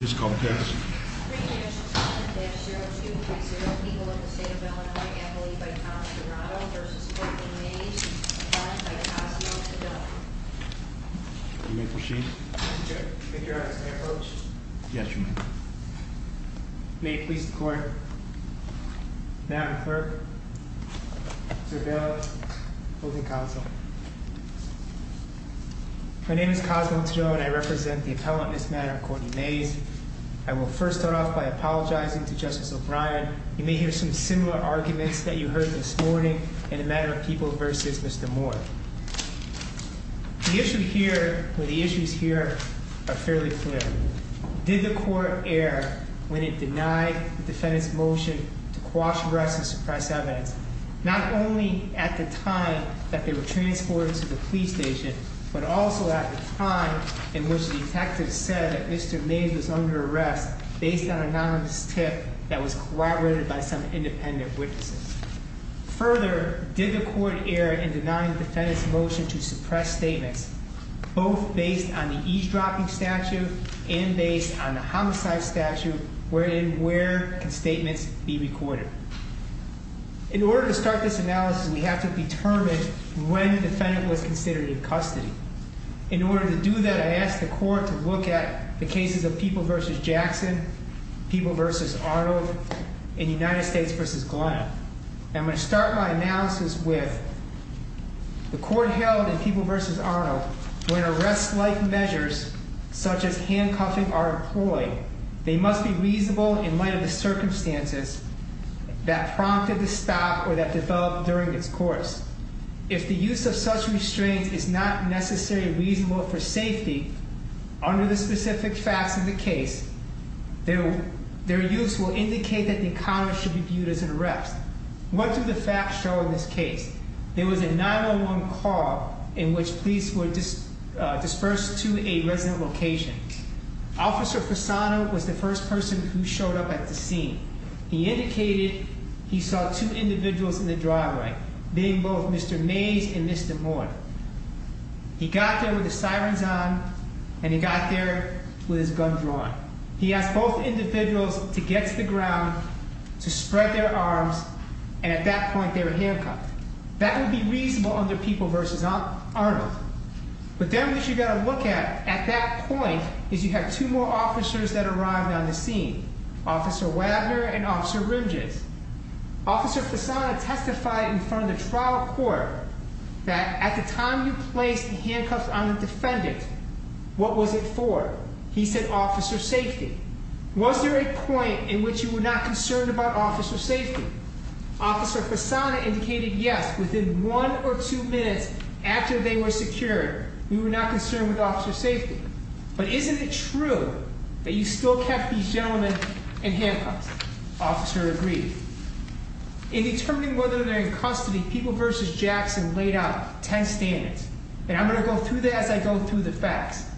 My name is Cosmo Taddeo and I represent the appellant in this matter, Courtney Mayes. I will first start off by apologizing to Justice O'Brien. You may hear some similar arguments that you heard this morning in the matter of People v. Mr. Moore. The issues here are fairly clear. Did the court err when it denied the defendant's motion to coerce, arrest, and suppress evidence? Not only at the time that they were transported to the police station, but also at the time in which the detective said that Mr. Mayes was under arrest based on anonymous tip that was corroborated by some independent witnesses. Further, did the court err in denying the defendant's motion to suppress statements, both based on the eavesdropping statute and based on the homicide statute, wherein where can statements be recorded? In order to start this analysis, we have to determine when the defendant was considered in custody. In order to do that, I asked the court to look at the cases of People v. Jackson, People v. Arnold, and United States v. Glenn. I'm going to start my analysis with the court held in People v. Arnold when arrest-like measures such as handcuffing are employed, they must be reasonable in light of the circumstances that prompted the stop or that developed during its course. If the use of such restraints is not necessarily reasonable for safety under the specific facts of the case, their use will indicate that the encounter should be viewed as an arrest. What do the facts show in this case? There was a 911 call in which police were dispersed to a resident location. Officer Fasano was the first person who showed up at the scene. He indicated he saw two individuals in the driveway, being both Mr. Mays and Mr. Moore. He got there with the sirens on, and he got there with his gun drawn. He asked both individuals to get to the ground, to spread their arms, and at that point they were handcuffed. That would be reasonable under People v. Arnold. But then what you've got to look at at that point is you have two more officers that arrived on the scene, Officer Wagner and Officer Rimjes. Officer Fasano testified in front of the trial court that at the time you placed the handcuffs on the defendant, what was it for? He said officer safety. Was there a point in which you were not concerned about officer safety? Officer Fasano indicated yes, within one or two minutes after they were secured, we were not concerned with officer safety. But isn't it true that you still kept these gentlemen in handcuffs? Officer agreed. In determining whether they're in custody, People v. Jackson laid out ten standards, and I'm going to go through that as I go through the facts.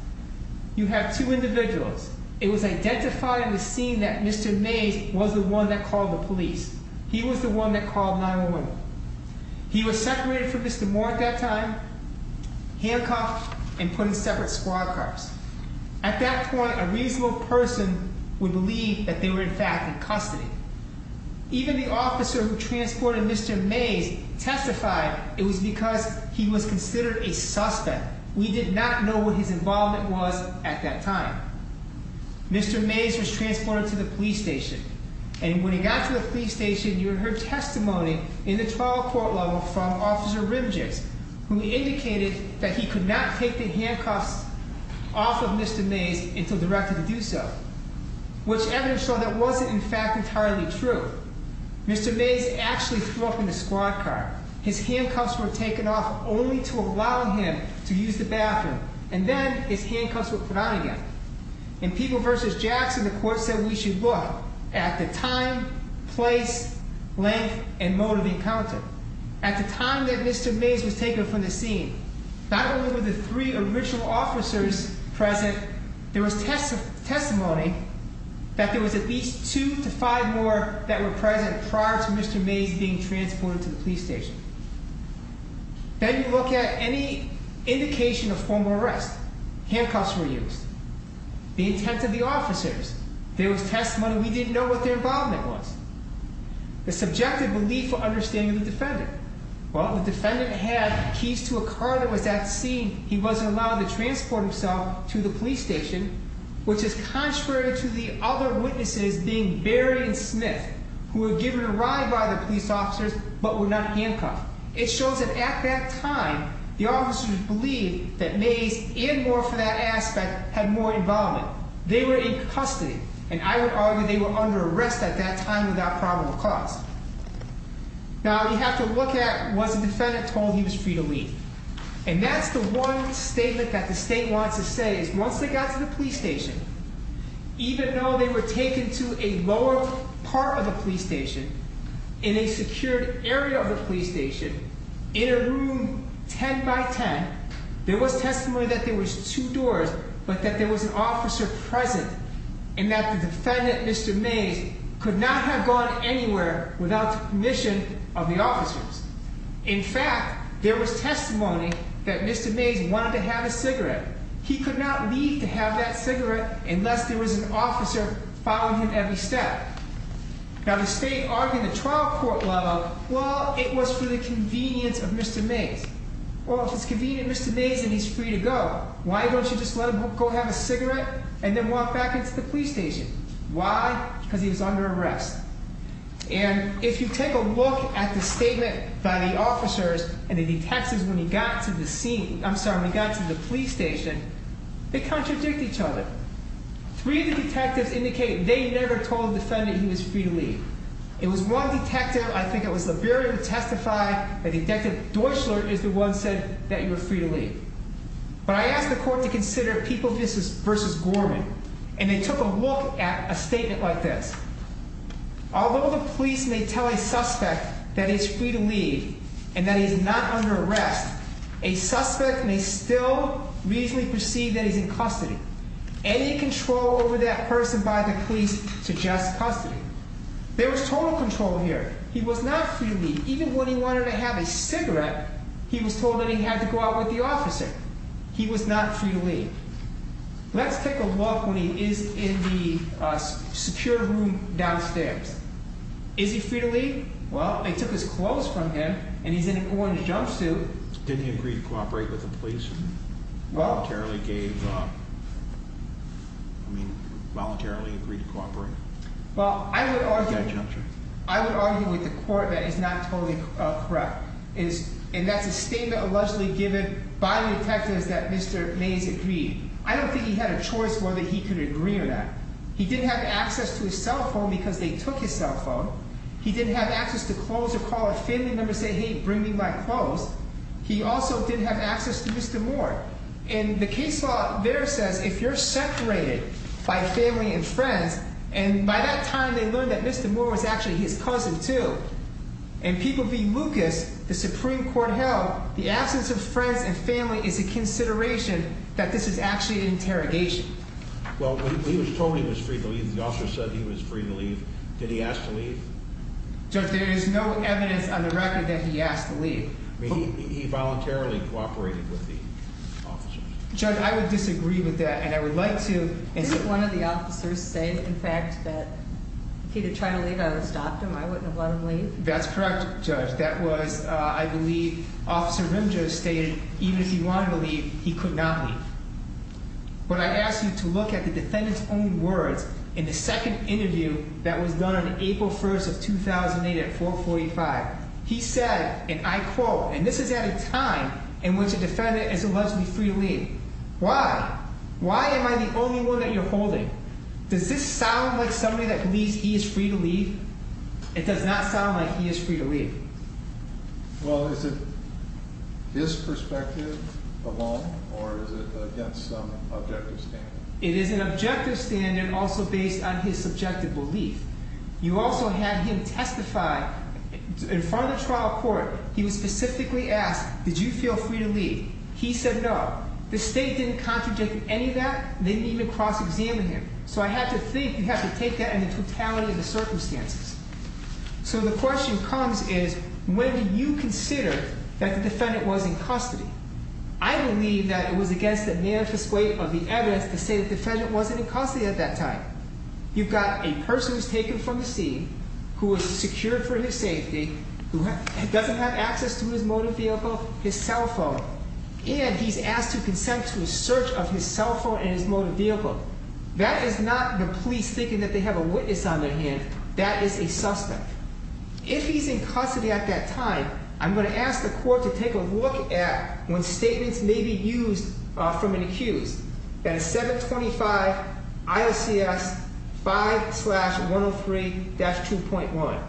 You have two individuals. It was identified in the scene that Mr. Mays was the one that called the police. He was the one that called 911. He was separated from Mr. Moore at that time, handcuffed, and put in separate squad cars. At that point, a reasonable person would believe that they were in fact in custody. Even the officer who transported Mr. Mays testified it was because he was considered a suspect. We did not know what his involvement was at that time. Mr. Mays was transported to the police station. And when he got to the police station, you heard testimony in the trial court level from Officer Rimjicks, who indicated that he could not take the handcuffs off of Mr. Mays until directed to do so, which evidence showed that wasn't in fact entirely true. Mr. Mays actually threw up in the squad car. His handcuffs were taken off only to allow him to use the bathroom, and then his handcuffs were put on again. In People v. Jackson, the court said we should look at the time, place, length, and mode of encounter. At the time that Mr. Mays was taken from the scene, not only were the three original officers present, there was testimony that there was at least two to five more that were present prior to Mr. Mays being transported to the police station. Then you look at any indication of formal arrest. Handcuffs were used. The intent of the officers. There was testimony we didn't know what their involvement was. The subjective belief or understanding of the defendant. Well, the defendant had keys to a car that was at the scene. He wasn't allowed to transport himself to the police station, which is contrary to the other witnesses being Barry and Smith, who were given a ride by the police officers but were not handcuffed. It shows that at that time, the officers believed that Mays and more for that aspect had more involvement. They were in custody, and I would argue they were under arrest at that time without probable cause. Now, you have to look at, was the defendant told he was free to leave? And that's the one statement that the state wants to say, is once they got to the police station, even though they were taken to a lower part of the police station, in a secured area of the police station, in a room ten by ten, there was testimony that there was two doors, but that there was an officer present, and that the defendant, Mr. Mays, could not have gone anywhere without the permission of the officers. In fact, there was testimony that Mr. Mays wanted to have a cigarette. He could not leave to have that cigarette unless there was an officer following him every step. Now, the state argued at the trial court level, well, it was for the convenience of Mr. Mays. Well, if it's convenient for Mr. Mays, then he's free to go. Why don't you just let him go have a cigarette and then walk back into the police station? Why? Because he was under arrest. And if you take a look at the statement by the officers and the detectives when he got to the scene, I'm sorry, when he got to the police station, they contradict each other. Three of the detectives indicate they never told the defendant he was free to leave. It was one detective, I think it was Liberian who testified, and Detective Deutschler is the one who said that you were free to leave. But I asked the court to consider People v. Gorman, and they took a look at a statement like this. Although the police may tell a suspect that he's free to leave and that he's not under arrest, a suspect may still reasonably perceive that he's in custody. Any control over that person by the police suggests custody. There was total control here. He was not free to leave. Even when he wanted to have a cigarette, he was told that he had to go out with the officer. He was not free to leave. Let's take a look when he is in the secure room downstairs. Is he free to leave? Well, they took his clothes from him, and he's in a going-to-jump suit. Didn't he agree to cooperate with the police and voluntarily gave up? I mean, voluntarily agreed to cooperate? Well, I would argue with the court that is not totally correct. And that's a statement allegedly given by the detectives that Mr. Mays agreed. I don't think he had a choice whether he could agree or not. He didn't have access to his cell phone because they took his cell phone. He didn't have access to clothes to call a family member and say, hey, bring me my clothes. He also didn't have access to Mr. Moore. And the case law there says if you're separated by family and friends, and by that time they learned that Mr. Moore was actually his cousin too, and people view Lucas, the Supreme Court held, the absence of friends and family is a consideration that this is actually an interrogation. Well, he was told he was free to leave. The officer said he was free to leave. Did he ask to leave? Judge, there is no evidence on the record that he asked to leave. I mean, he voluntarily cooperated with the officers. Judge, I would disagree with that, and I would like to. Didn't one of the officers say, in fact, that if he had tried to leave, I would have stopped him? I wouldn't have let him leave? That's correct, Judge. That was, I believe, Officer Rimjo stated even if he wanted to leave, he could not leave. But I ask you to look at the defendant's own words in the second interview that was done on April 1st of 2008 at 445. He said, and I quote, and this is at a time in which a defendant is allegedly free to leave. Why? Why am I the only one that you're holding? Does this sound like somebody that believes he is free to leave? It does not sound like he is free to leave. Well, is it his perspective alone, or is it against some objective standard? It is an objective standard also based on his subjective belief. You also have him testify in front of the trial court. He was specifically asked, did you feel free to leave? He said no. The state didn't contradict any of that. They didn't even cross-examine him. So I have to think you have to take that in the totality of the circumstances. So the question comes is, when do you consider that the defendant was in custody? I believe that it was against the manifest weight of the evidence to say the defendant wasn't in custody at that time. You've got a person who was taken from the scene, who was secured for his safety, who doesn't have access to his motor vehicle, his cell phone, and he's asked to consent to a search of his cell phone and his motor vehicle. That is not the police thinking that they have a witness on their hand. That is a suspect. If he's in custody at that time, I'm going to ask the court to take a look at when statements may be used from an accused. That is 725 IOCS 5-103-2.1.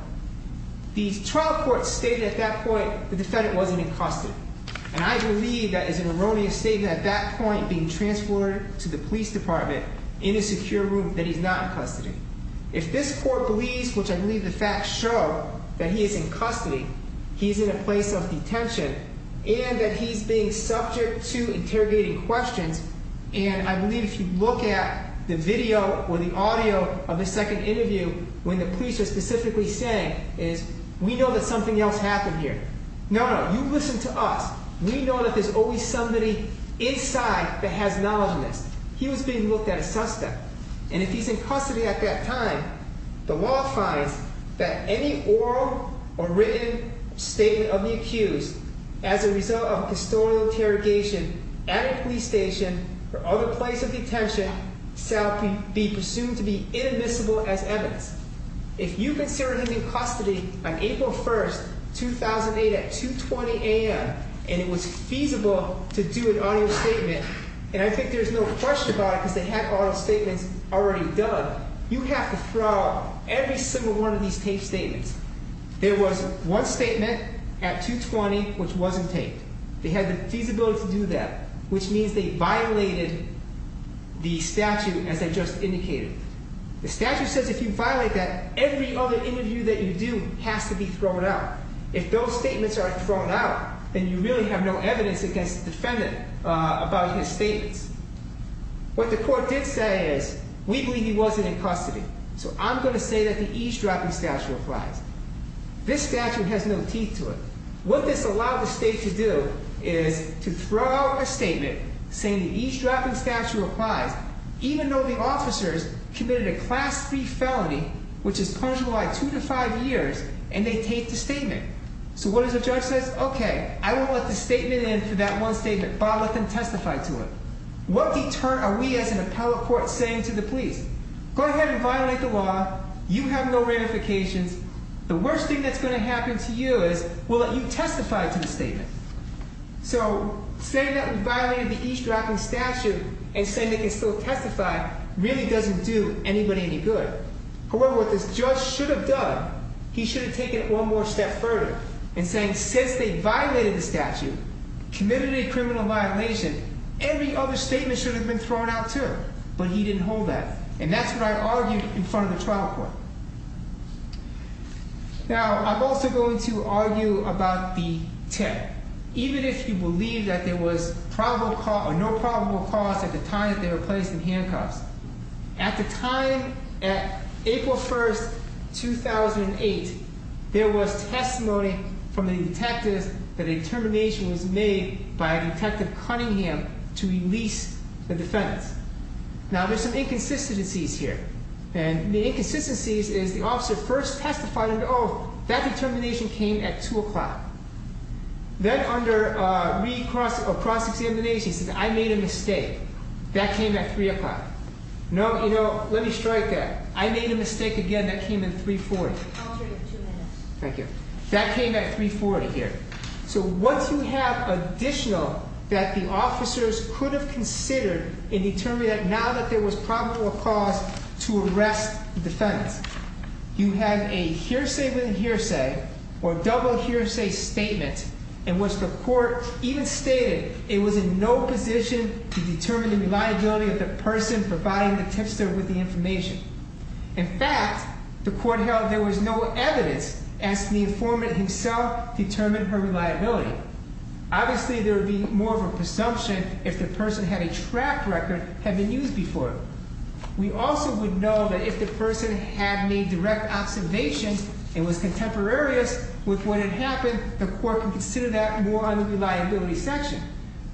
The trial court stated at that point the defendant wasn't in custody. And I believe that is an erroneous statement at that point being transferred to the police department in a secure room that he's not in custody. If this court believes, which I believe the facts show, that he is in custody, he's in a place of detention, and that he's being subject to interrogating questions, and I believe if you look at the video or the audio of the second interview when the police are specifically saying, is we know that something else happened here. No, no, you listen to us. We know that there's always somebody inside that has knowledge of this. He was being looked at as suspect. And if he's in custody at that time, the law finds that any oral or written statement of the accused as a result of a custodial interrogation at a police station or other place of detention shall be presumed to be inadmissible as evidence. If you consider him in custody on April 1st, 2008, at 2.20 a.m., and it was feasible to do an audio statement, and I think there's no question about it because they had audio statements already done, you have to throw out every single one of these taped statements. There was one statement at 2.20 which wasn't taped. They had the feasibility to do that, which means they violated the statute as I just indicated. The statute says if you violate that, every other interview that you do has to be thrown out. If those statements are thrown out, then you really have no evidence against the defendant about his statements. What the court did say is, we believe he wasn't in custody, so I'm going to say that the eavesdropping statute applies. This statute has no teeth to it. What this allowed the state to do is to throw out a statement saying the eavesdropping statute applies, even though the officers committed a class 3 felony, which is punishable by 2 to 5 years, and they taped the statement. So what does the judge say? Okay, I won't let the statement in for that one statement, but I'll let them testify to it. What deterrent are we as an appellate court saying to the police? Go ahead and violate the law. You have no ramifications. The worst thing that's going to happen to you is we'll let you testify to the statement. So saying that we violated the eavesdropping statute and saying they can still testify really doesn't do anybody any good. However, what this judge should have done, he should have taken it one more step further in saying since they violated the statute, committed a criminal violation, every other statement should have been thrown out too, but he didn't hold that. And that's what I argued in front of the trial court. Now, I'm also going to argue about the tip. Even if you believe that there was probable cause or no probable cause at the time that they were placed in handcuffs, at the time, at April 1, 2008, there was testimony from the detectives that a determination was made by Detective Cunningham to release the defendants. Now, there's some inconsistencies here, and the inconsistencies is the officer first testified and, oh, that determination came at 2 o'clock. Then under recross or cross-examination, he says, I made a mistake. That came at 3 o'clock. No, you know, let me strike that. I made a mistake again that came in 340. Thank you. That came at 340 here. So once you have additional that the officers could have considered in determining that now that there was probable cause to arrest the defendants, you have a hearsay-within-hearsay or double hearsay statement in which the court even stated it was in no position to determine the reliability of the person providing the tipster with the information. In fact, the court held there was no evidence as to the informant himself determined her reliability. Obviously, there would be more of a presumption if the person had a track record had been used before. We also would know that if the person had made direct observations and was contemporaneous with what had happened, the court would consider that more on the reliability section.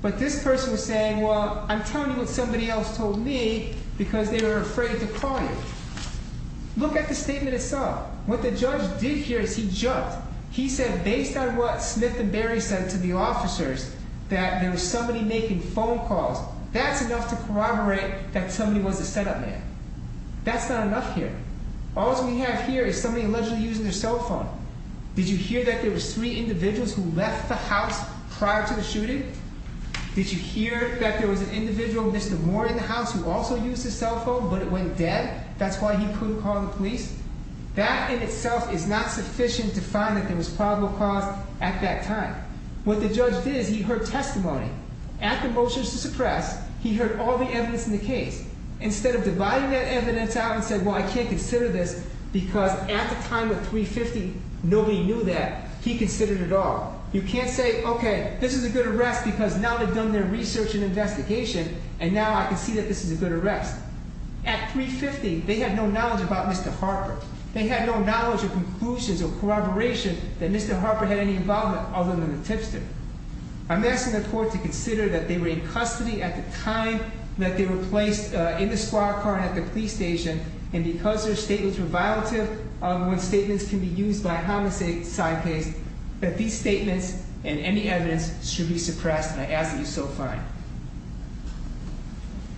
But this person was saying, well, I'm telling you what somebody else told me because they were afraid to call you. Look at the statement itself. What the judge did here is he jumped. He said, based on what Smith and Barry said to the officers, that there was somebody making phone calls. That's enough to corroborate that somebody was a set-up man. That's not enough here. All that we have here is somebody allegedly using their cell phone. Did you hear that there were three individuals who left the house prior to the shooting? Did you hear that there was an individual, Mr. Warren, in the house who also used his cell phone but it went dead? That's why he couldn't call the police? That in itself is not sufficient to find that there was probable cause at that time. What the judge did is he heard testimony. After motions to suppress, he heard all the evidence in the case. Instead of dividing that evidence out and saying, well, I can't consider this because at the time of 350, nobody knew that, he considered it all. You can't say, okay, this is a good arrest because now they've done their research and investigation and now I can see that this is a good arrest. At 350, they had no knowledge about Mr. Harper. They had no knowledge of conclusions or corroboration that Mr. Harper had any involvement other than the tipster. I'm asking the court to consider that they were in custody at the time that they were placed in the squad car and at the police station, and because their statements were violative of when statements can be used by a homicide case, that these statements and any evidence should be suppressed, and I ask that you so find.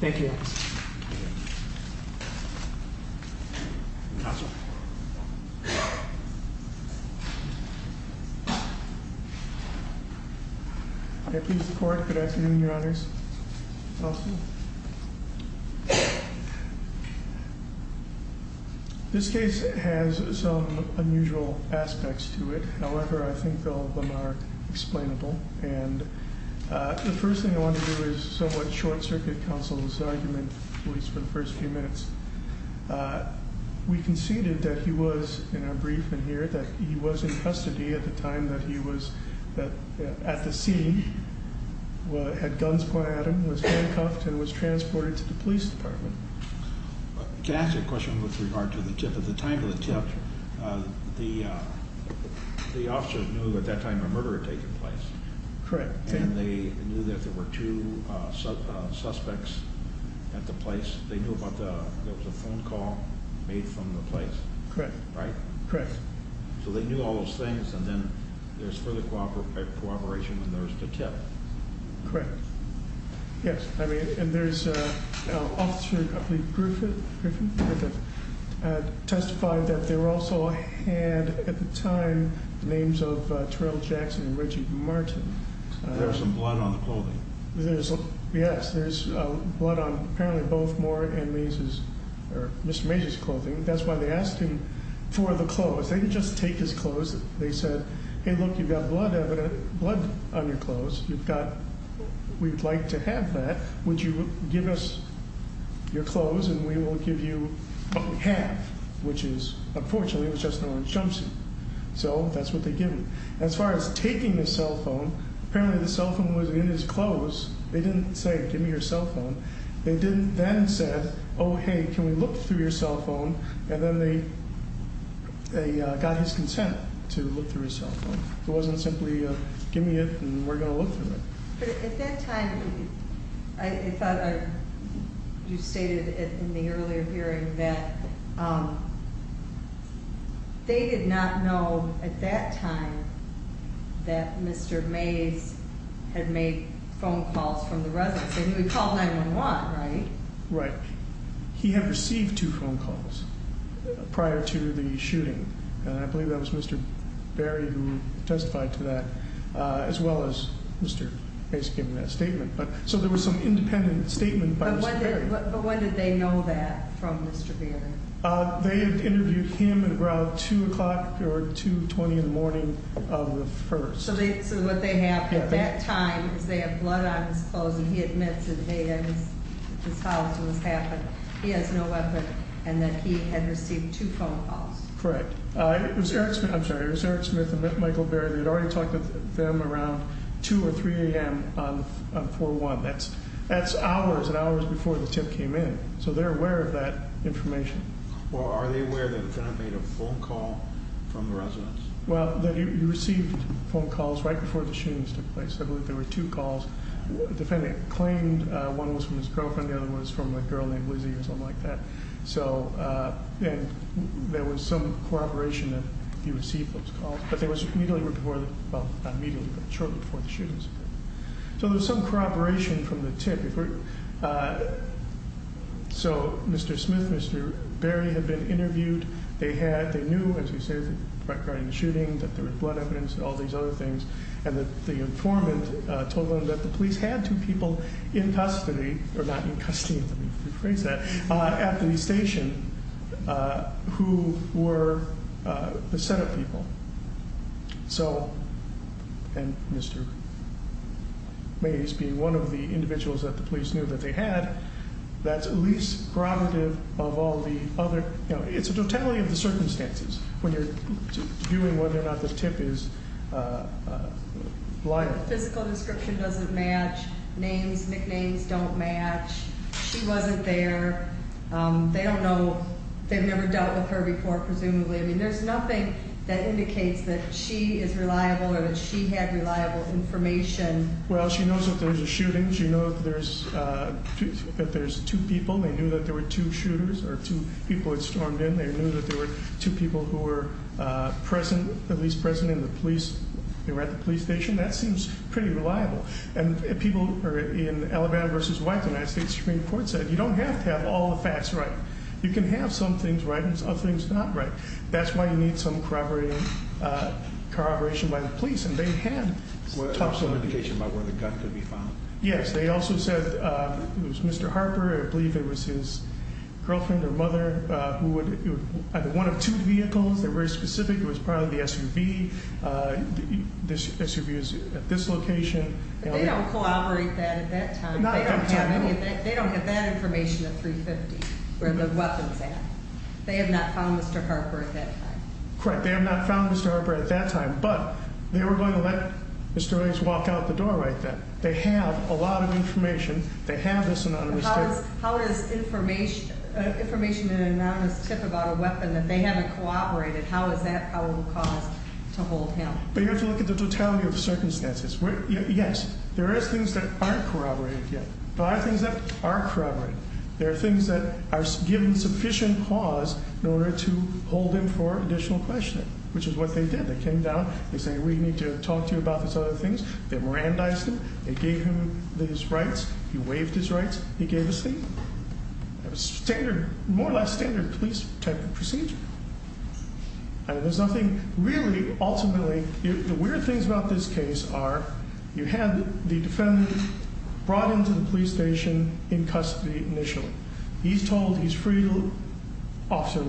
Thank you. Counsel. I please the court. Good afternoon, Your Honors. Counsel. This case has some unusual aspects to it. However, I think all of them are explainable. And the first thing I want to do is somewhat short-circuit counsel's argument, at least for the first few minutes. We conceded that he was, in our briefing here, that he was in custody at the time that he was at the scene, had guns pointed at him, was handcuffed, and was transported to the police department. Can I ask a question with regard to the tip? At the time of the tip, the officer knew at that time a murder had taken place. Correct. And they knew that there were two suspects at the place. They knew there was a phone call made from the place. Correct. Right? Correct. So they knew all those things, and then there's further cooperation when there was the tip. Correct. Yes, I mean, and there's an officer, I believe Griffith, testified that there also had, at the time, names of Terrell Jackson and Richard Martin. There was some blood on the clothing. Yes, there's blood on apparently both Moore and Macy's, or Mr. Macy's clothing. That's why they asked him for the clothes. They didn't just take his clothes. They said, hey, look, you've got blood on your clothes. We'd like to have that. Would you give us your clothes, and we will give you half, which is, unfortunately, it was just an orange jumpsuit. So that's what they gave him. As far as taking the cell phone, apparently the cell phone was in his clothes. They didn't say, give me your cell phone. They didn't then say, oh, hey, can we look through your cell phone? And then they got his consent to look through his cell phone. It wasn't simply, give me it, and we're going to look through it. But at that time, I thought you stated in the earlier hearing that they did not know at that time that Mr. Mays had made phone calls from the residence. And he would call 911, right? Right. He had received two phone calls prior to the shooting. And I believe that was Mr. Berry who testified to that, as well as Mr. Mays giving that statement. So there was some independent statement by Mr. Berry. But when did they know that from Mr. Berry? They had interviewed him around 2 o'clock or 2.20 in the morning of the 1st. So what they have at that time is they have blood on his clothes, and he admits that they had his house was happened. He has no weapon, and that he had received two phone calls. Correct. It was Eric Smith. I'm sorry. It was Eric Smith and Michael Berry. They had already talked to them around 2 or 3 a.m. on 4-1. That's hours and hours before the tip came in. So they're aware of that information. Well, are they aware that they had made a phone call from the residence? Well, that he received phone calls right before the shootings took place. I believe there were two calls. The defendant claimed one was from his girlfriend. The other was from a girl named Lizzie or something like that. So there was some corroboration that he received those calls. But they were immediately reported, well, not immediately, but shortly before the shootings occurred. So there was some corroboration from the tip. So Mr. Smith and Mr. Berry had been interviewed. They knew, as we said, regarding the shooting, that there was blood evidence and all these other things, and the informant told them that the police had two people in custody, or not in custody, let me rephrase that, at the station who were the set-up people. So, and Mr. Mays being one of the individuals that the police knew that they had, that's at least prerogative of all the other, you know, it's a totality of the circumstances when you're viewing whether or not the tip is liable. Physical description doesn't match. Names, nicknames don't match. She wasn't there. They don't know. They've never dealt with her before, presumably. I mean, there's nothing that indicates that she is reliable or that she had reliable information. Well, she knows that there's a shooting. She knows that there's two people. They knew that there were two shooters or two people had stormed in. They knew that there were two people who were present, at least present in the police. They were at the police station. That seems pretty reliable. And people in Alabama v. White, the United States Supreme Court said, you don't have to have all the facts right. You can have some things right and some things not right. That's why you need some corroboration by the police. And they had talked to the police. What was the indication about where the gun could be found? Yes. They also said it was Mr. Harper. I believe it was his girlfriend or mother who would either one of two vehicles that were specific. It was probably the SUV. The SUV is at this location. They don't corroborate that at that time. Not at that time, no. They don't have that information at 350, where the weapon's at. They have not found Mr. Harper at that time. Correct. They have not found Mr. Harper at that time. But they were going to let Mr. Reyes walk out the door right then. They have a lot of information. They have this anonymous tip. How does information and anonymous tip about a weapon, if they haven't corroborated, how is that our cause to hold him? But you have to look at the totality of the circumstances. Yes, there are things that aren't corroborated yet. There are things that are corroborated. There are things that are given sufficient cause in order to hold him for additional questioning, which is what they did. They came down. They said, we need to talk to you about these other things. They Mirandized him. They gave him his rights. He waived his rights. He gave us the standard, more or less standard police type of procedure. And there's nothing, really, ultimately, the weird things about this case are you had the defendant brought into the police station in custody initially. He's told he's free. Officer,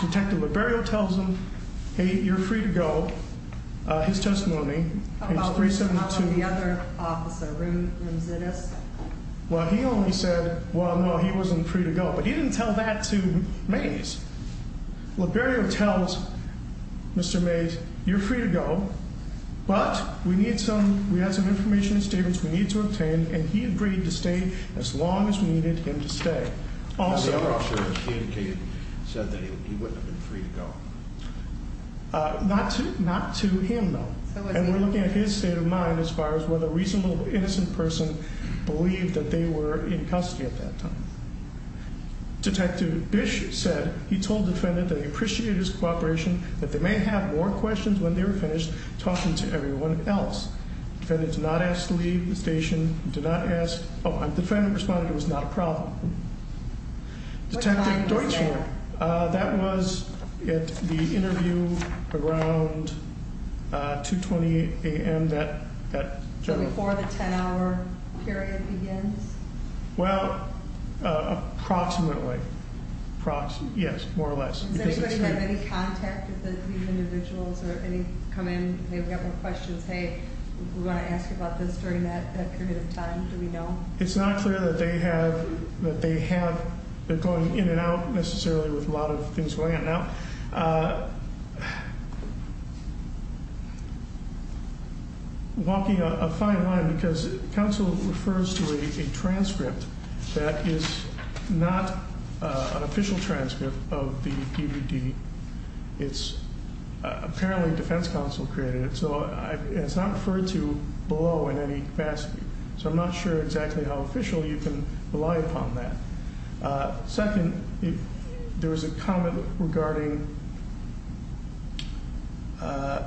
Detective Liberio tells him, hey, you're free to go. His testimony, page 372. How about the other officer, Room Zitis? Well, he only said, well, no, he wasn't free to go. But he didn't tell that to Mays. Liberio tells Mr. Mays, you're free to go. But we need some, we have some information and statements we need to obtain. And he agreed to stay as long as we needed him to stay. How about the other officer? He indicated, said that he wouldn't have been free to go. Not to him, though. And we're looking at his state of mind as far as whether a reasonable, innocent person believed that they were in custody at that time. Detective Bish said he told the defendant that he appreciated his cooperation, that they may have more questions when they were finished talking to everyone else. The defendant did not ask to leave the station. He did not ask, oh, the defendant responded it was not a problem. Detective Deutschhorn. What time was that? That was at the interview around 2.20 a.m. So before the 10-hour period begins? Well, approximately. Yes, more or less. Does anybody have any contact with these individuals or any come in, they've got more questions, hey, we want to ask about this during that period of time, do we know? It's not clear that they have, they're going in and out necessarily with a lot of things going on. Now, walking a fine line, because counsel refers to a transcript that is not an official transcript of the DVD. It's apparently defense counsel created it, so it's not referred to below in any capacity. So I'm not sure exactly how officially you can rely upon that. Second, there was a comment regarding, the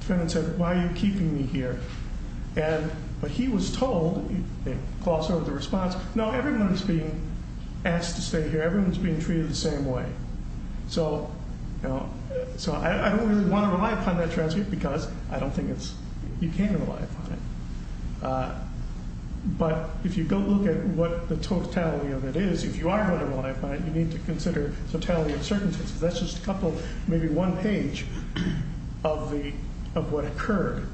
defendant said, why are you keeping me here? And he was told, the response, no, everyone is being asked to stay here. Everyone is being treated the same way. So I don't really want to rely upon that transcript because I don't think you can rely upon it. But if you go look at what the totality of it is, if you are going to rely upon it, you need to consider totality of circumstances. That's just a couple, maybe one page of what occurred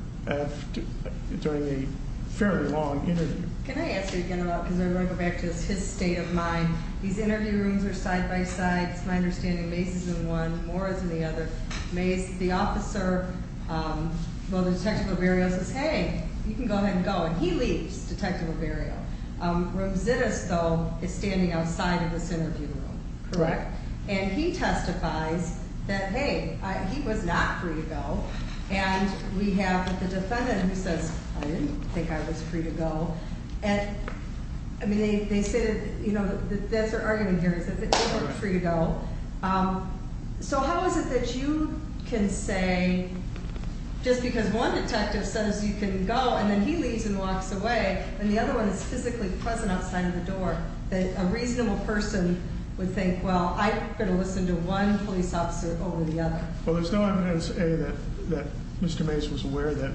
during a fairly long interview. Can I ask you again about, because I want to go back to his state of mind. These interview rooms are side-by-side. It's my understanding Mace is in one, Morris in the other. Mace, the officer, well, the detective of burial says, hey, you can go ahead and go. And he leaves, detective of burial. Ramzides, though, is standing outside of this interview room. Correct. And he testifies that, hey, he was not free to go. And we have the defendant who says, I didn't think I was free to go. I mean, they say, that's their argument here, is that they weren't free to go. So how is it that you can say, just because one detective says you can go and then he leaves and walks away, and the other one is physically present outside of the door, that a reasonable person would think, well, I better listen to one police officer over the other. Well, there's no evidence, A, that Mr. Mace was aware that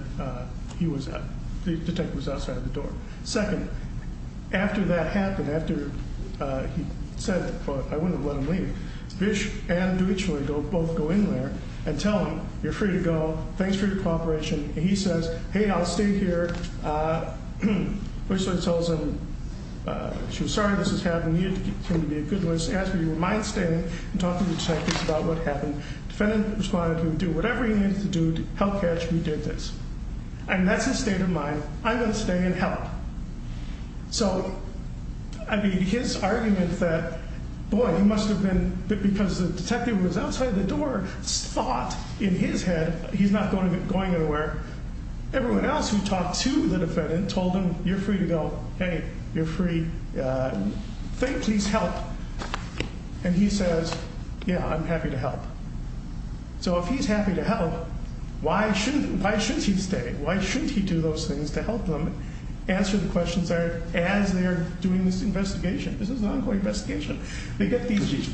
the detective was outside of the door. Second, after that happened, after he said, well, I wouldn't have let him leave, Bish and Dewitchler both go in there and tell him, you're free to go. Thanks for your cooperation. And he says, hey, I'll stay here. Dewitchler tells him, she was sorry this was happening. You need to continue to be a good listener. As we were mindstanding and talking to the detectives about what happened, the defendant responded he would do whatever he needed to do to help catch who did this. And that's his state of mind. I'm going to stay and help. So, I mean, his argument that, boy, he must have been, because the detective was outside the door, thought in his head he's not going anywhere. Everyone else who talked to the defendant told him, you're free to go. Hey, you're free. Please help. And he says, yeah, I'm happy to help. So if he's happy to help, why shouldn't he stay? Why shouldn't he do those things to help them answer the questions as they're doing this investigation? This is an ongoing investigation. Because he's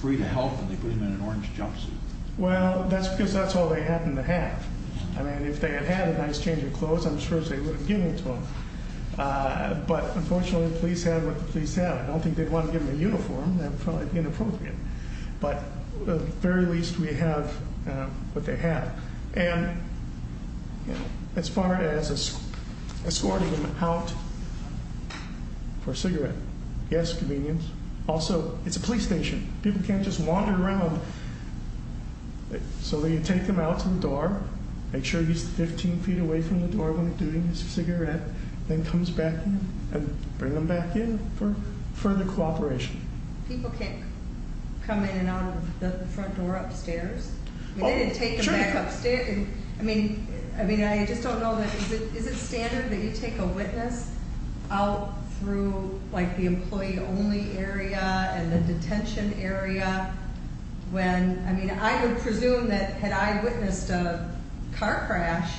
free to help and they put him in an orange jumpsuit. Well, that's because that's all they happen to have. I mean, if they had had a nice change of clothes, I'm sure they would have given it to him. But, unfortunately, the police have what the police have. I don't think they'd want to give him a uniform. That would probably be inappropriate. But at the very least, we have what they have. And as far as escorting him out for cigarette gas convenience, also, it's a police station. People can't just wander around. So they take him out to the door. Make sure he's 15 feet away from the door when he's doing his cigarette. Then comes back in and bring him back in for further cooperation. People can't come in and out of the front door upstairs? They didn't take him back upstairs. I mean, I just don't know. Is it standard that you take a witness out through, like, the employee-only area and the detention area when, I mean, I would presume that had I witnessed a car crash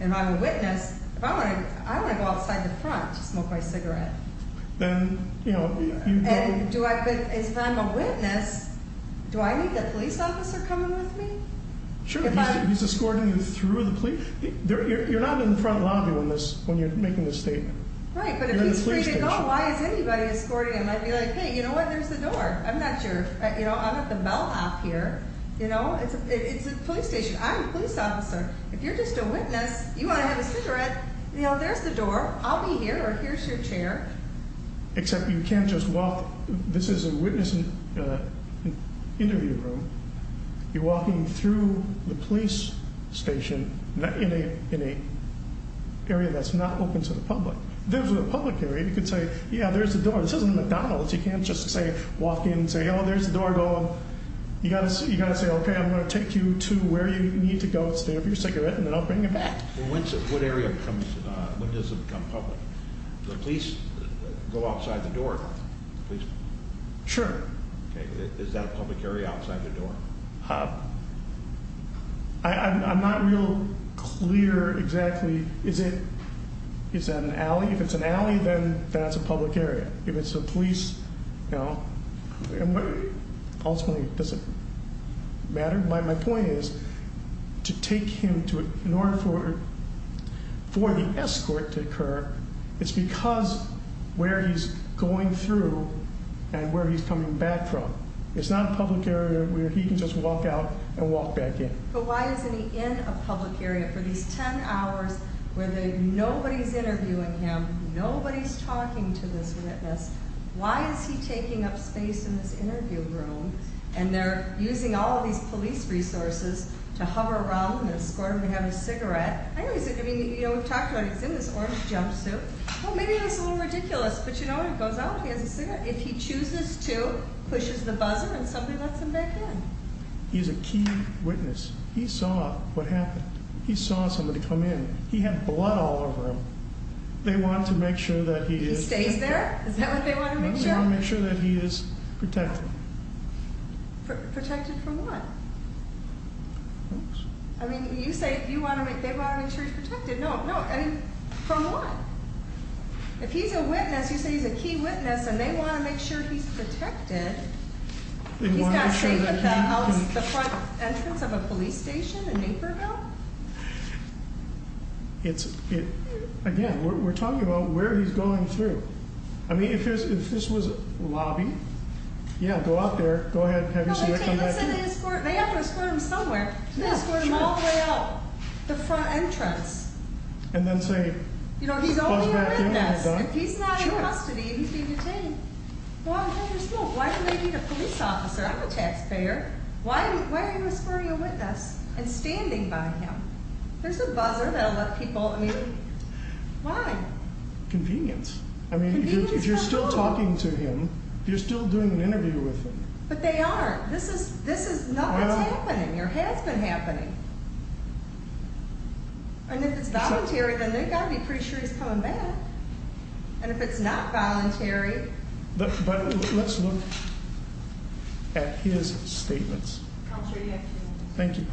and I'm a witness, if I want to go outside the front to smoke my cigarette. Then, you know, you don't. And if I'm a witness, do I need the police officer coming with me? Sure, he's escorting you through the police. You're not in the front lobby when you're making this statement. Right, but if he's free to go, why is anybody escorting him? I'd be like, hey, you know what, there's the door. I'm not your, you know, I'm at the bellhop here. You know, it's a police station. I'm a police officer. If you're just a witness, you want to have a cigarette, you know, there's the door. I'll be here or here's your chair. Except you can't just walk. This is a witness interview room. You're walking through the police station in an area that's not open to the public. This is a public area. You could say, yeah, there's the door. This isn't McDonald's. You can't just say, walk in, say, oh, there's the door, go. You got to say, okay, I'm going to take you to where you need to go to stay off your cigarette, and then I'll bring you back. Well, when does it become public? The police go outside the door. Sure. Okay. Is that a public area outside the door? I'm not real clear exactly. Is it an alley? If it's an alley, then that's a public area. If it's a police, you know, ultimately, does it matter? My point is, to take him to, in order for the escort to occur, it's because where he's going through and where he's coming back from. It's not a public area where he can just walk out and walk back in. But why isn't he in a public area for these ten hours where nobody's interviewing him, nobody's talking to this witness? Why is he taking up space in this interview room, and they're using all of these police resources to hover around and escort him and have his cigarette? I know he's, I mean, you know, we've talked about it. He's in this orange jumpsuit. Well, maybe that's a little ridiculous, but you know, when he goes out, he has a cigarette. If he chooses to, pushes the buzzer, and somebody lets him back in. He's a key witness. He saw what happened. He saw somebody come in. He had blood all over him. They wanted to make sure that he is. He stays there? Is that what they want to make sure? They want to make sure that he is protected. Protected from what? I mean, you say you want to make, they want to make sure he's protected. No, no, I mean, from what? If he's a witness, you say he's a key witness, and they want to make sure he's protected. He's not safe at the front entrance of a police station in Naperville? It's, again, we're talking about where he's going through. I mean, if this was a lobby, yeah, go out there. Go ahead and have your cigarette come back in. They have to escort him somewhere. Escort him all the way out the front entrance. And then say, you know, he's only a witness. If he's not in custody and he's being detained, go out and have your smoke. Why do they need a police officer? I'm a taxpayer. Why are you escorting a witness and standing by him? There's a buzzer that will let people, I mean, why? Convenience. I mean, if you're still talking to him, you're still doing an interview with him. But they aren't. This is, this is, no, it's happening. It has been happening. And if it's voluntary, then they've got to be pretty sure he's coming back. And if it's not voluntary. But let's look at his statements. Thank you.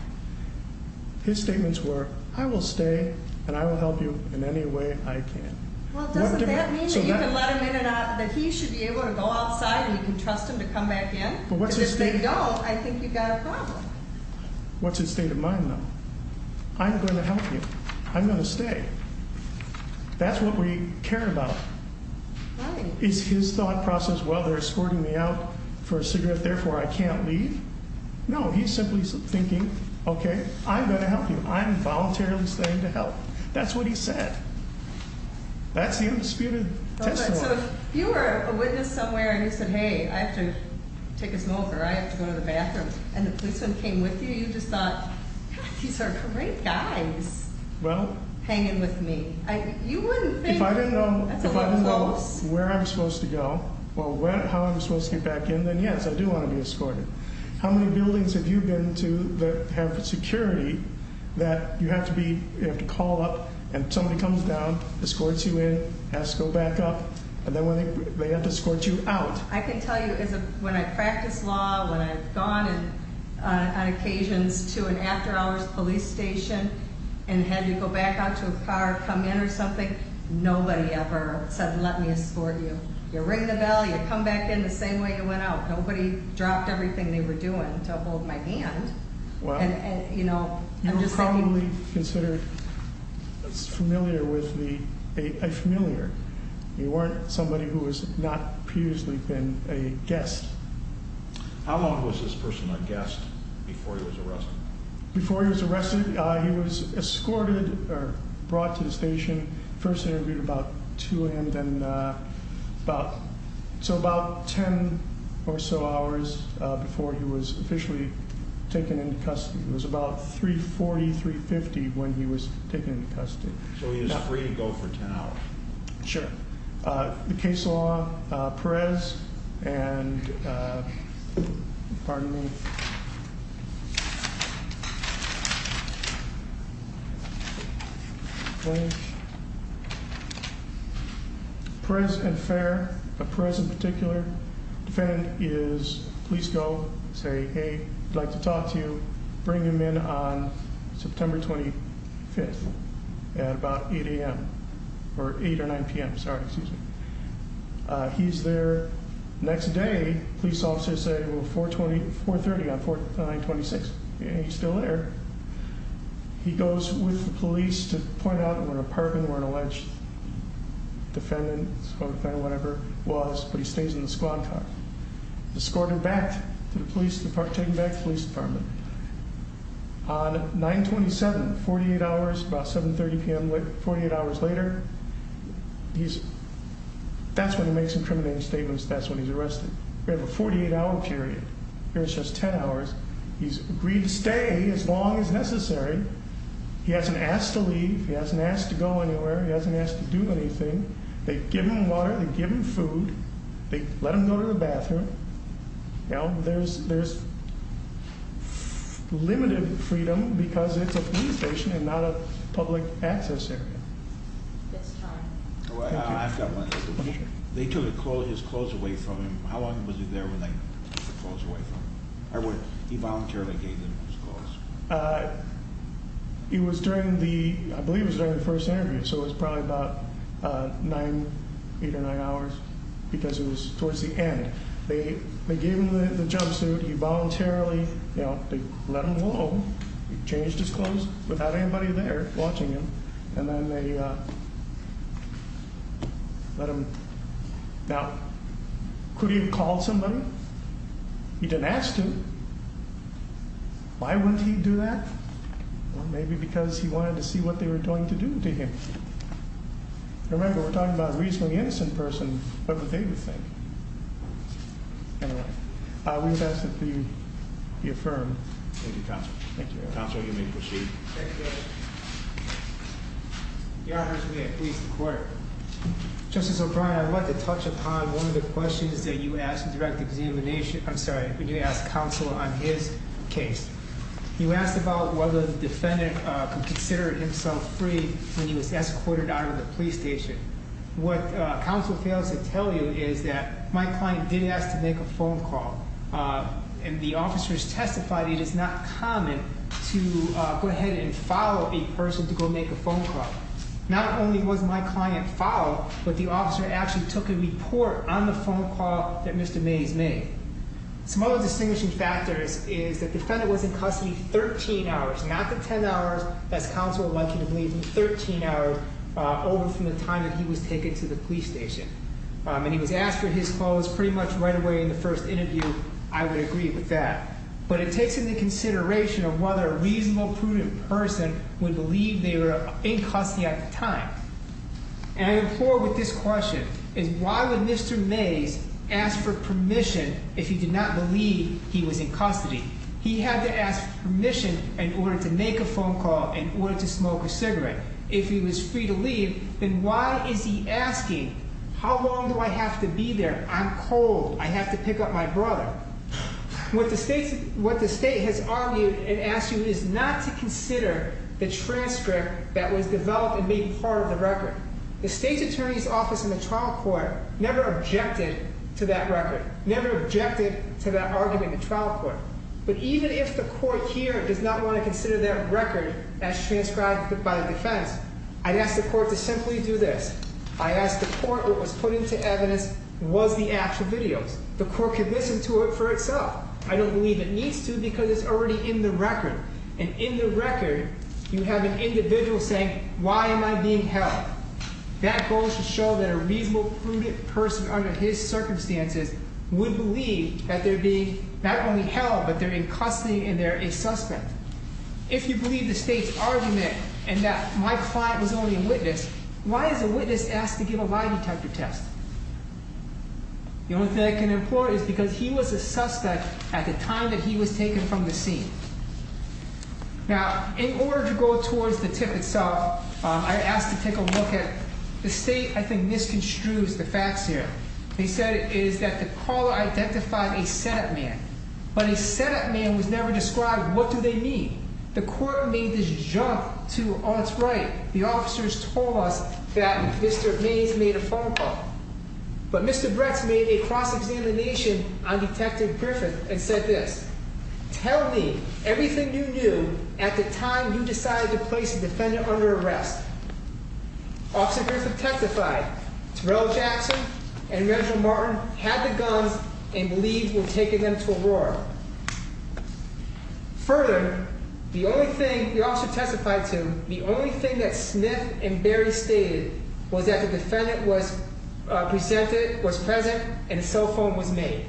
His statements were, I will stay and I will help you in any way I can. Well, doesn't that mean that you can let him in and out, that he should be able to go outside and you can trust him to come back in? Because if they don't, I think you've got a problem. What's his state of mind, though? I'm going to help you. I'm going to stay. That's what we care about. Is his thought process, well, they're escorting me out for a cigarette, therefore I can't leave? No, he's simply thinking, okay, I'm going to help you. I'm voluntarily staying to help. That's what he said. That's the undisputed testimony. So if you were a witness somewhere and you said, hey, I have to take a smoker, I have to go to the bathroom, and the policeman came with you, you just thought, God, these are great guys hanging with me. If I didn't know where I was supposed to go or how I was supposed to get back in, then, yes, I do want to be escorted. How many buildings have you been to that have security that you have to call up and somebody comes down, escorts you in, has to go back up, and then they have to escort you out? I can tell you when I practice law, when I've gone on occasions to an after-hours police station and had to go back out to a car, come in or something, nobody ever said, let me escort you. You ring the bell, you come back in the same way you went out. Nobody dropped everything they were doing to hold my hand. You were probably considered a familiar. You weren't somebody who has not previously been a guest. How long was this person a guest before he was arrested? Before he was arrested, he was escorted or brought to the station. First they interviewed about 2 a.m. So about 10 or so hours before he was officially taken into custody. It was about 3.40, 3.50 when he was taken into custody. So he was free to go for 10 hours? Sure. The case law, Perez and, pardon me. Perez and Fair, Perez in particular, defendant is, please go, say hey, I'd like to talk to you, bring him in on September 25th at about 8 a.m. Or 8 or 9 p.m., sorry, excuse me. He's there. Next day, police officers say, well, 4.30 on 4.26, and he's still there. He goes with the police to point out where an apartment or an alleged defendant, whatever it was, but he stays in the squad car. Escorted back to the police department, taken back to the police department. On 9.27, 48 hours, about 7.30 p.m., 48 hours later, that's when he makes incriminating statements, that's when he's arrested. We have a 48-hour period. Here it's just 10 hours. He's agreed to stay as long as necessary. He hasn't asked to leave. He hasn't asked to go anywhere. He hasn't asked to do anything. They give him food. They let him go to the bathroom. There's limited freedom because it's a police station and not a public access area. That's time. I've got one. They took his clothes away from him. How long was he there when they took the clothes away from him? He voluntarily gave them his clothes. It was during the, I believe it was during the first interview, so it was probably about 9, 8 or 9 hours because it was towards the end. They gave him the jumpsuit. He voluntarily, you know, let him go. He changed his clothes without anybody there watching him, and then they let him. Now, could he have called somebody? He didn't ask to. Why wouldn't he do that? Well, maybe because he wanted to see what they were going to do to him. Remember, we're talking about a reasonably innocent person. What would they do the same? Anyway, we've asked that the affirmed. Thank you, Counsel. Counsel, you may proceed. Thank you. Your Honors, we have police in court. Justice O'Brien, I'd like to touch upon one of the questions that you asked in direct examination. I'm sorry, when you asked counsel on his case. You asked about whether the defendant considered himself free when he was escorted out of the police station. What counsel fails to tell you is that my client did ask to make a phone call. And the officers testified it is not common to go ahead and follow a person to go make a phone call. Not only was my client followed, but the officer actually took a report on the phone call that Mr. Mays made. Some other distinguishing factors is that the defendant was in custody 13 hours. Not the 10 hours, as counsel would like him to believe, but 13 hours over from the time that he was taken to the police station. And he was asked for his clothes pretty much right away in the first interview. I would agree with that. But it takes into consideration of whether a reasonable, prudent person would believe they were in custody at the time. And I implore with this question, is why would Mr. Mays ask for permission if he did not believe he was in custody? He had to ask permission in order to make a phone call, in order to smoke a cigarette. If he was free to leave, then why is he asking, how long do I have to be there? I'm cold, I have to pick up my brother. What the state has argued and asked you is not to consider the transcript that was developed and made part of the record. The state's attorney's office in the trial court never objected to that record. Never objected to that argument in the trial court. But even if the court here does not want to consider that record as transcribed by the defense, I'd ask the court to simply do this. I'd ask the court what was put into evidence was the actual videos. The court could listen to it for itself. I don't believe it needs to because it's already in the record. And in the record, you have an individual saying, why am I being held? That goes to show that a reasonable, prudent person under his circumstances would believe that they're being not only held, but they're in custody and they're a suspect. If you believe the state's argument and that my client was only a witness, why is a witness asked to give a lie detector test? The only thing I can implore is because he was a suspect at the time that he was taken from the scene. Now, in order to go towards the tip itself, I asked to take a look at the state. I think this construes the facts here. They said it is that the caller identified a setup man, but a setup man was never described. What do they mean? The court made this jump to, oh, that's right. The officers told us that Mr. Mays made a phone call, but Mr. Brett's made a cross-examination on Detective Griffith and said this. Tell me everything you knew at the time you decided to place the defendant under arrest. Officer Griffith testified. Terrell Jackson and Reginald Martin had the guns and believed we were taking them to Aurora. Further, the only thing the officer testified to, the only thing that Smith and Berry stated was that the defendant was presented, was present, and a cell phone was made.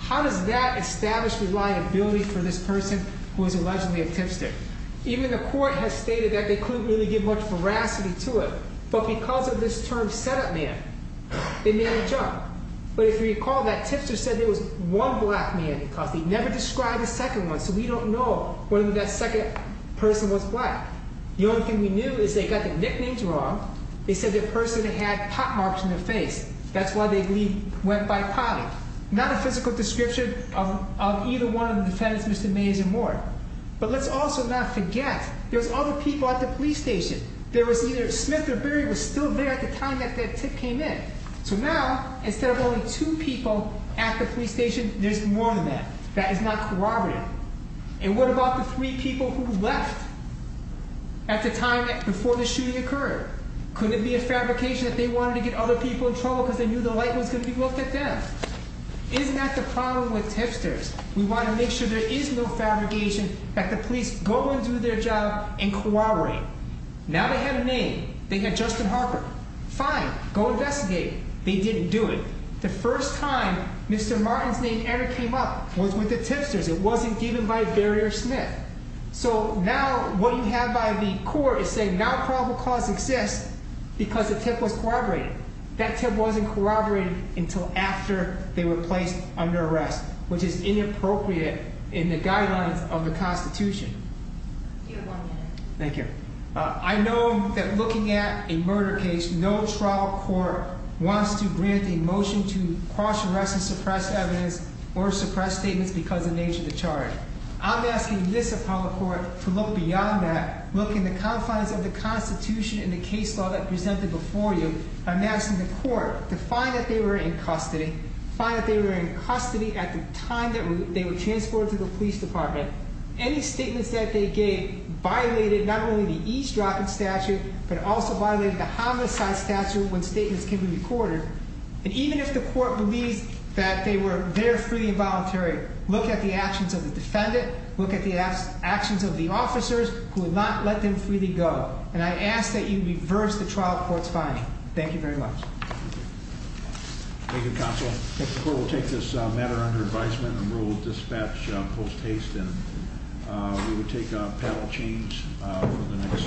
How does that establish reliability for this person who is allegedly a tipster? Even the court has stated that they couldn't really give much veracity to it, but because of this term setup man, they made a jump. But if you recall, that tipster said there was one black man because they never described a second one, so we don't know whether that second person was black. The only thing we knew is they got the nicknames wrong. They said the person had pot marks on their face. That's why they believe went by potty. Not a physical description of either one of the defendants, Mr. Mays or more. But let's also not forget there was other people at the police station. There was either Smith or Berry was still there at the time that that tip came in. So now, instead of only two people at the police station, there's more than that. That is not corroborative. And what about the three people who left at the time before the shooting occurred? Couldn't it be a fabrication that they wanted to get other people in trouble because they knew the light was going to be looked at them? Isn't that the problem with tipsters? We want to make sure there is no fabrication that the police go and do their job and corroborate. Now they have a name. They got Justin Harper. Fine. Go investigate. They didn't do it. The first time Mr. Martin's name ever came up was with the tipsters. It wasn't given by a barrier Smith. So now what you have by the court is saying now probable cause exists because the tip was corroborated. That tip wasn't corroborated until after they were placed under arrest, which is inappropriate in the guidelines of the Constitution. Thank you. I know that looking at a murder case, no trial court wants to grant a motion to cross arrest and suppress evidence or suppress statements because of nature of the charge. I'm asking this appellate court to look beyond that, look in the confines of the Constitution and the case law that presented before you. I'm asking the court to find that they were in custody, find that they were in custody at the time that they were transported to the police department. Any statements that they gave violated not only the eavesdropping statute, but also violated the homicide statute when statements can be recorded. And even if the court believes that they were there free and voluntary, look at the actions of the defendant. Look at the actions of the officers who would not let them freely go. And I ask that you reverse the trial court's finding. Thank you very much. Thank you, counsel. The court will take this matter under advisement and we will dispatch post haste and we will take a panel change for the next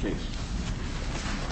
case.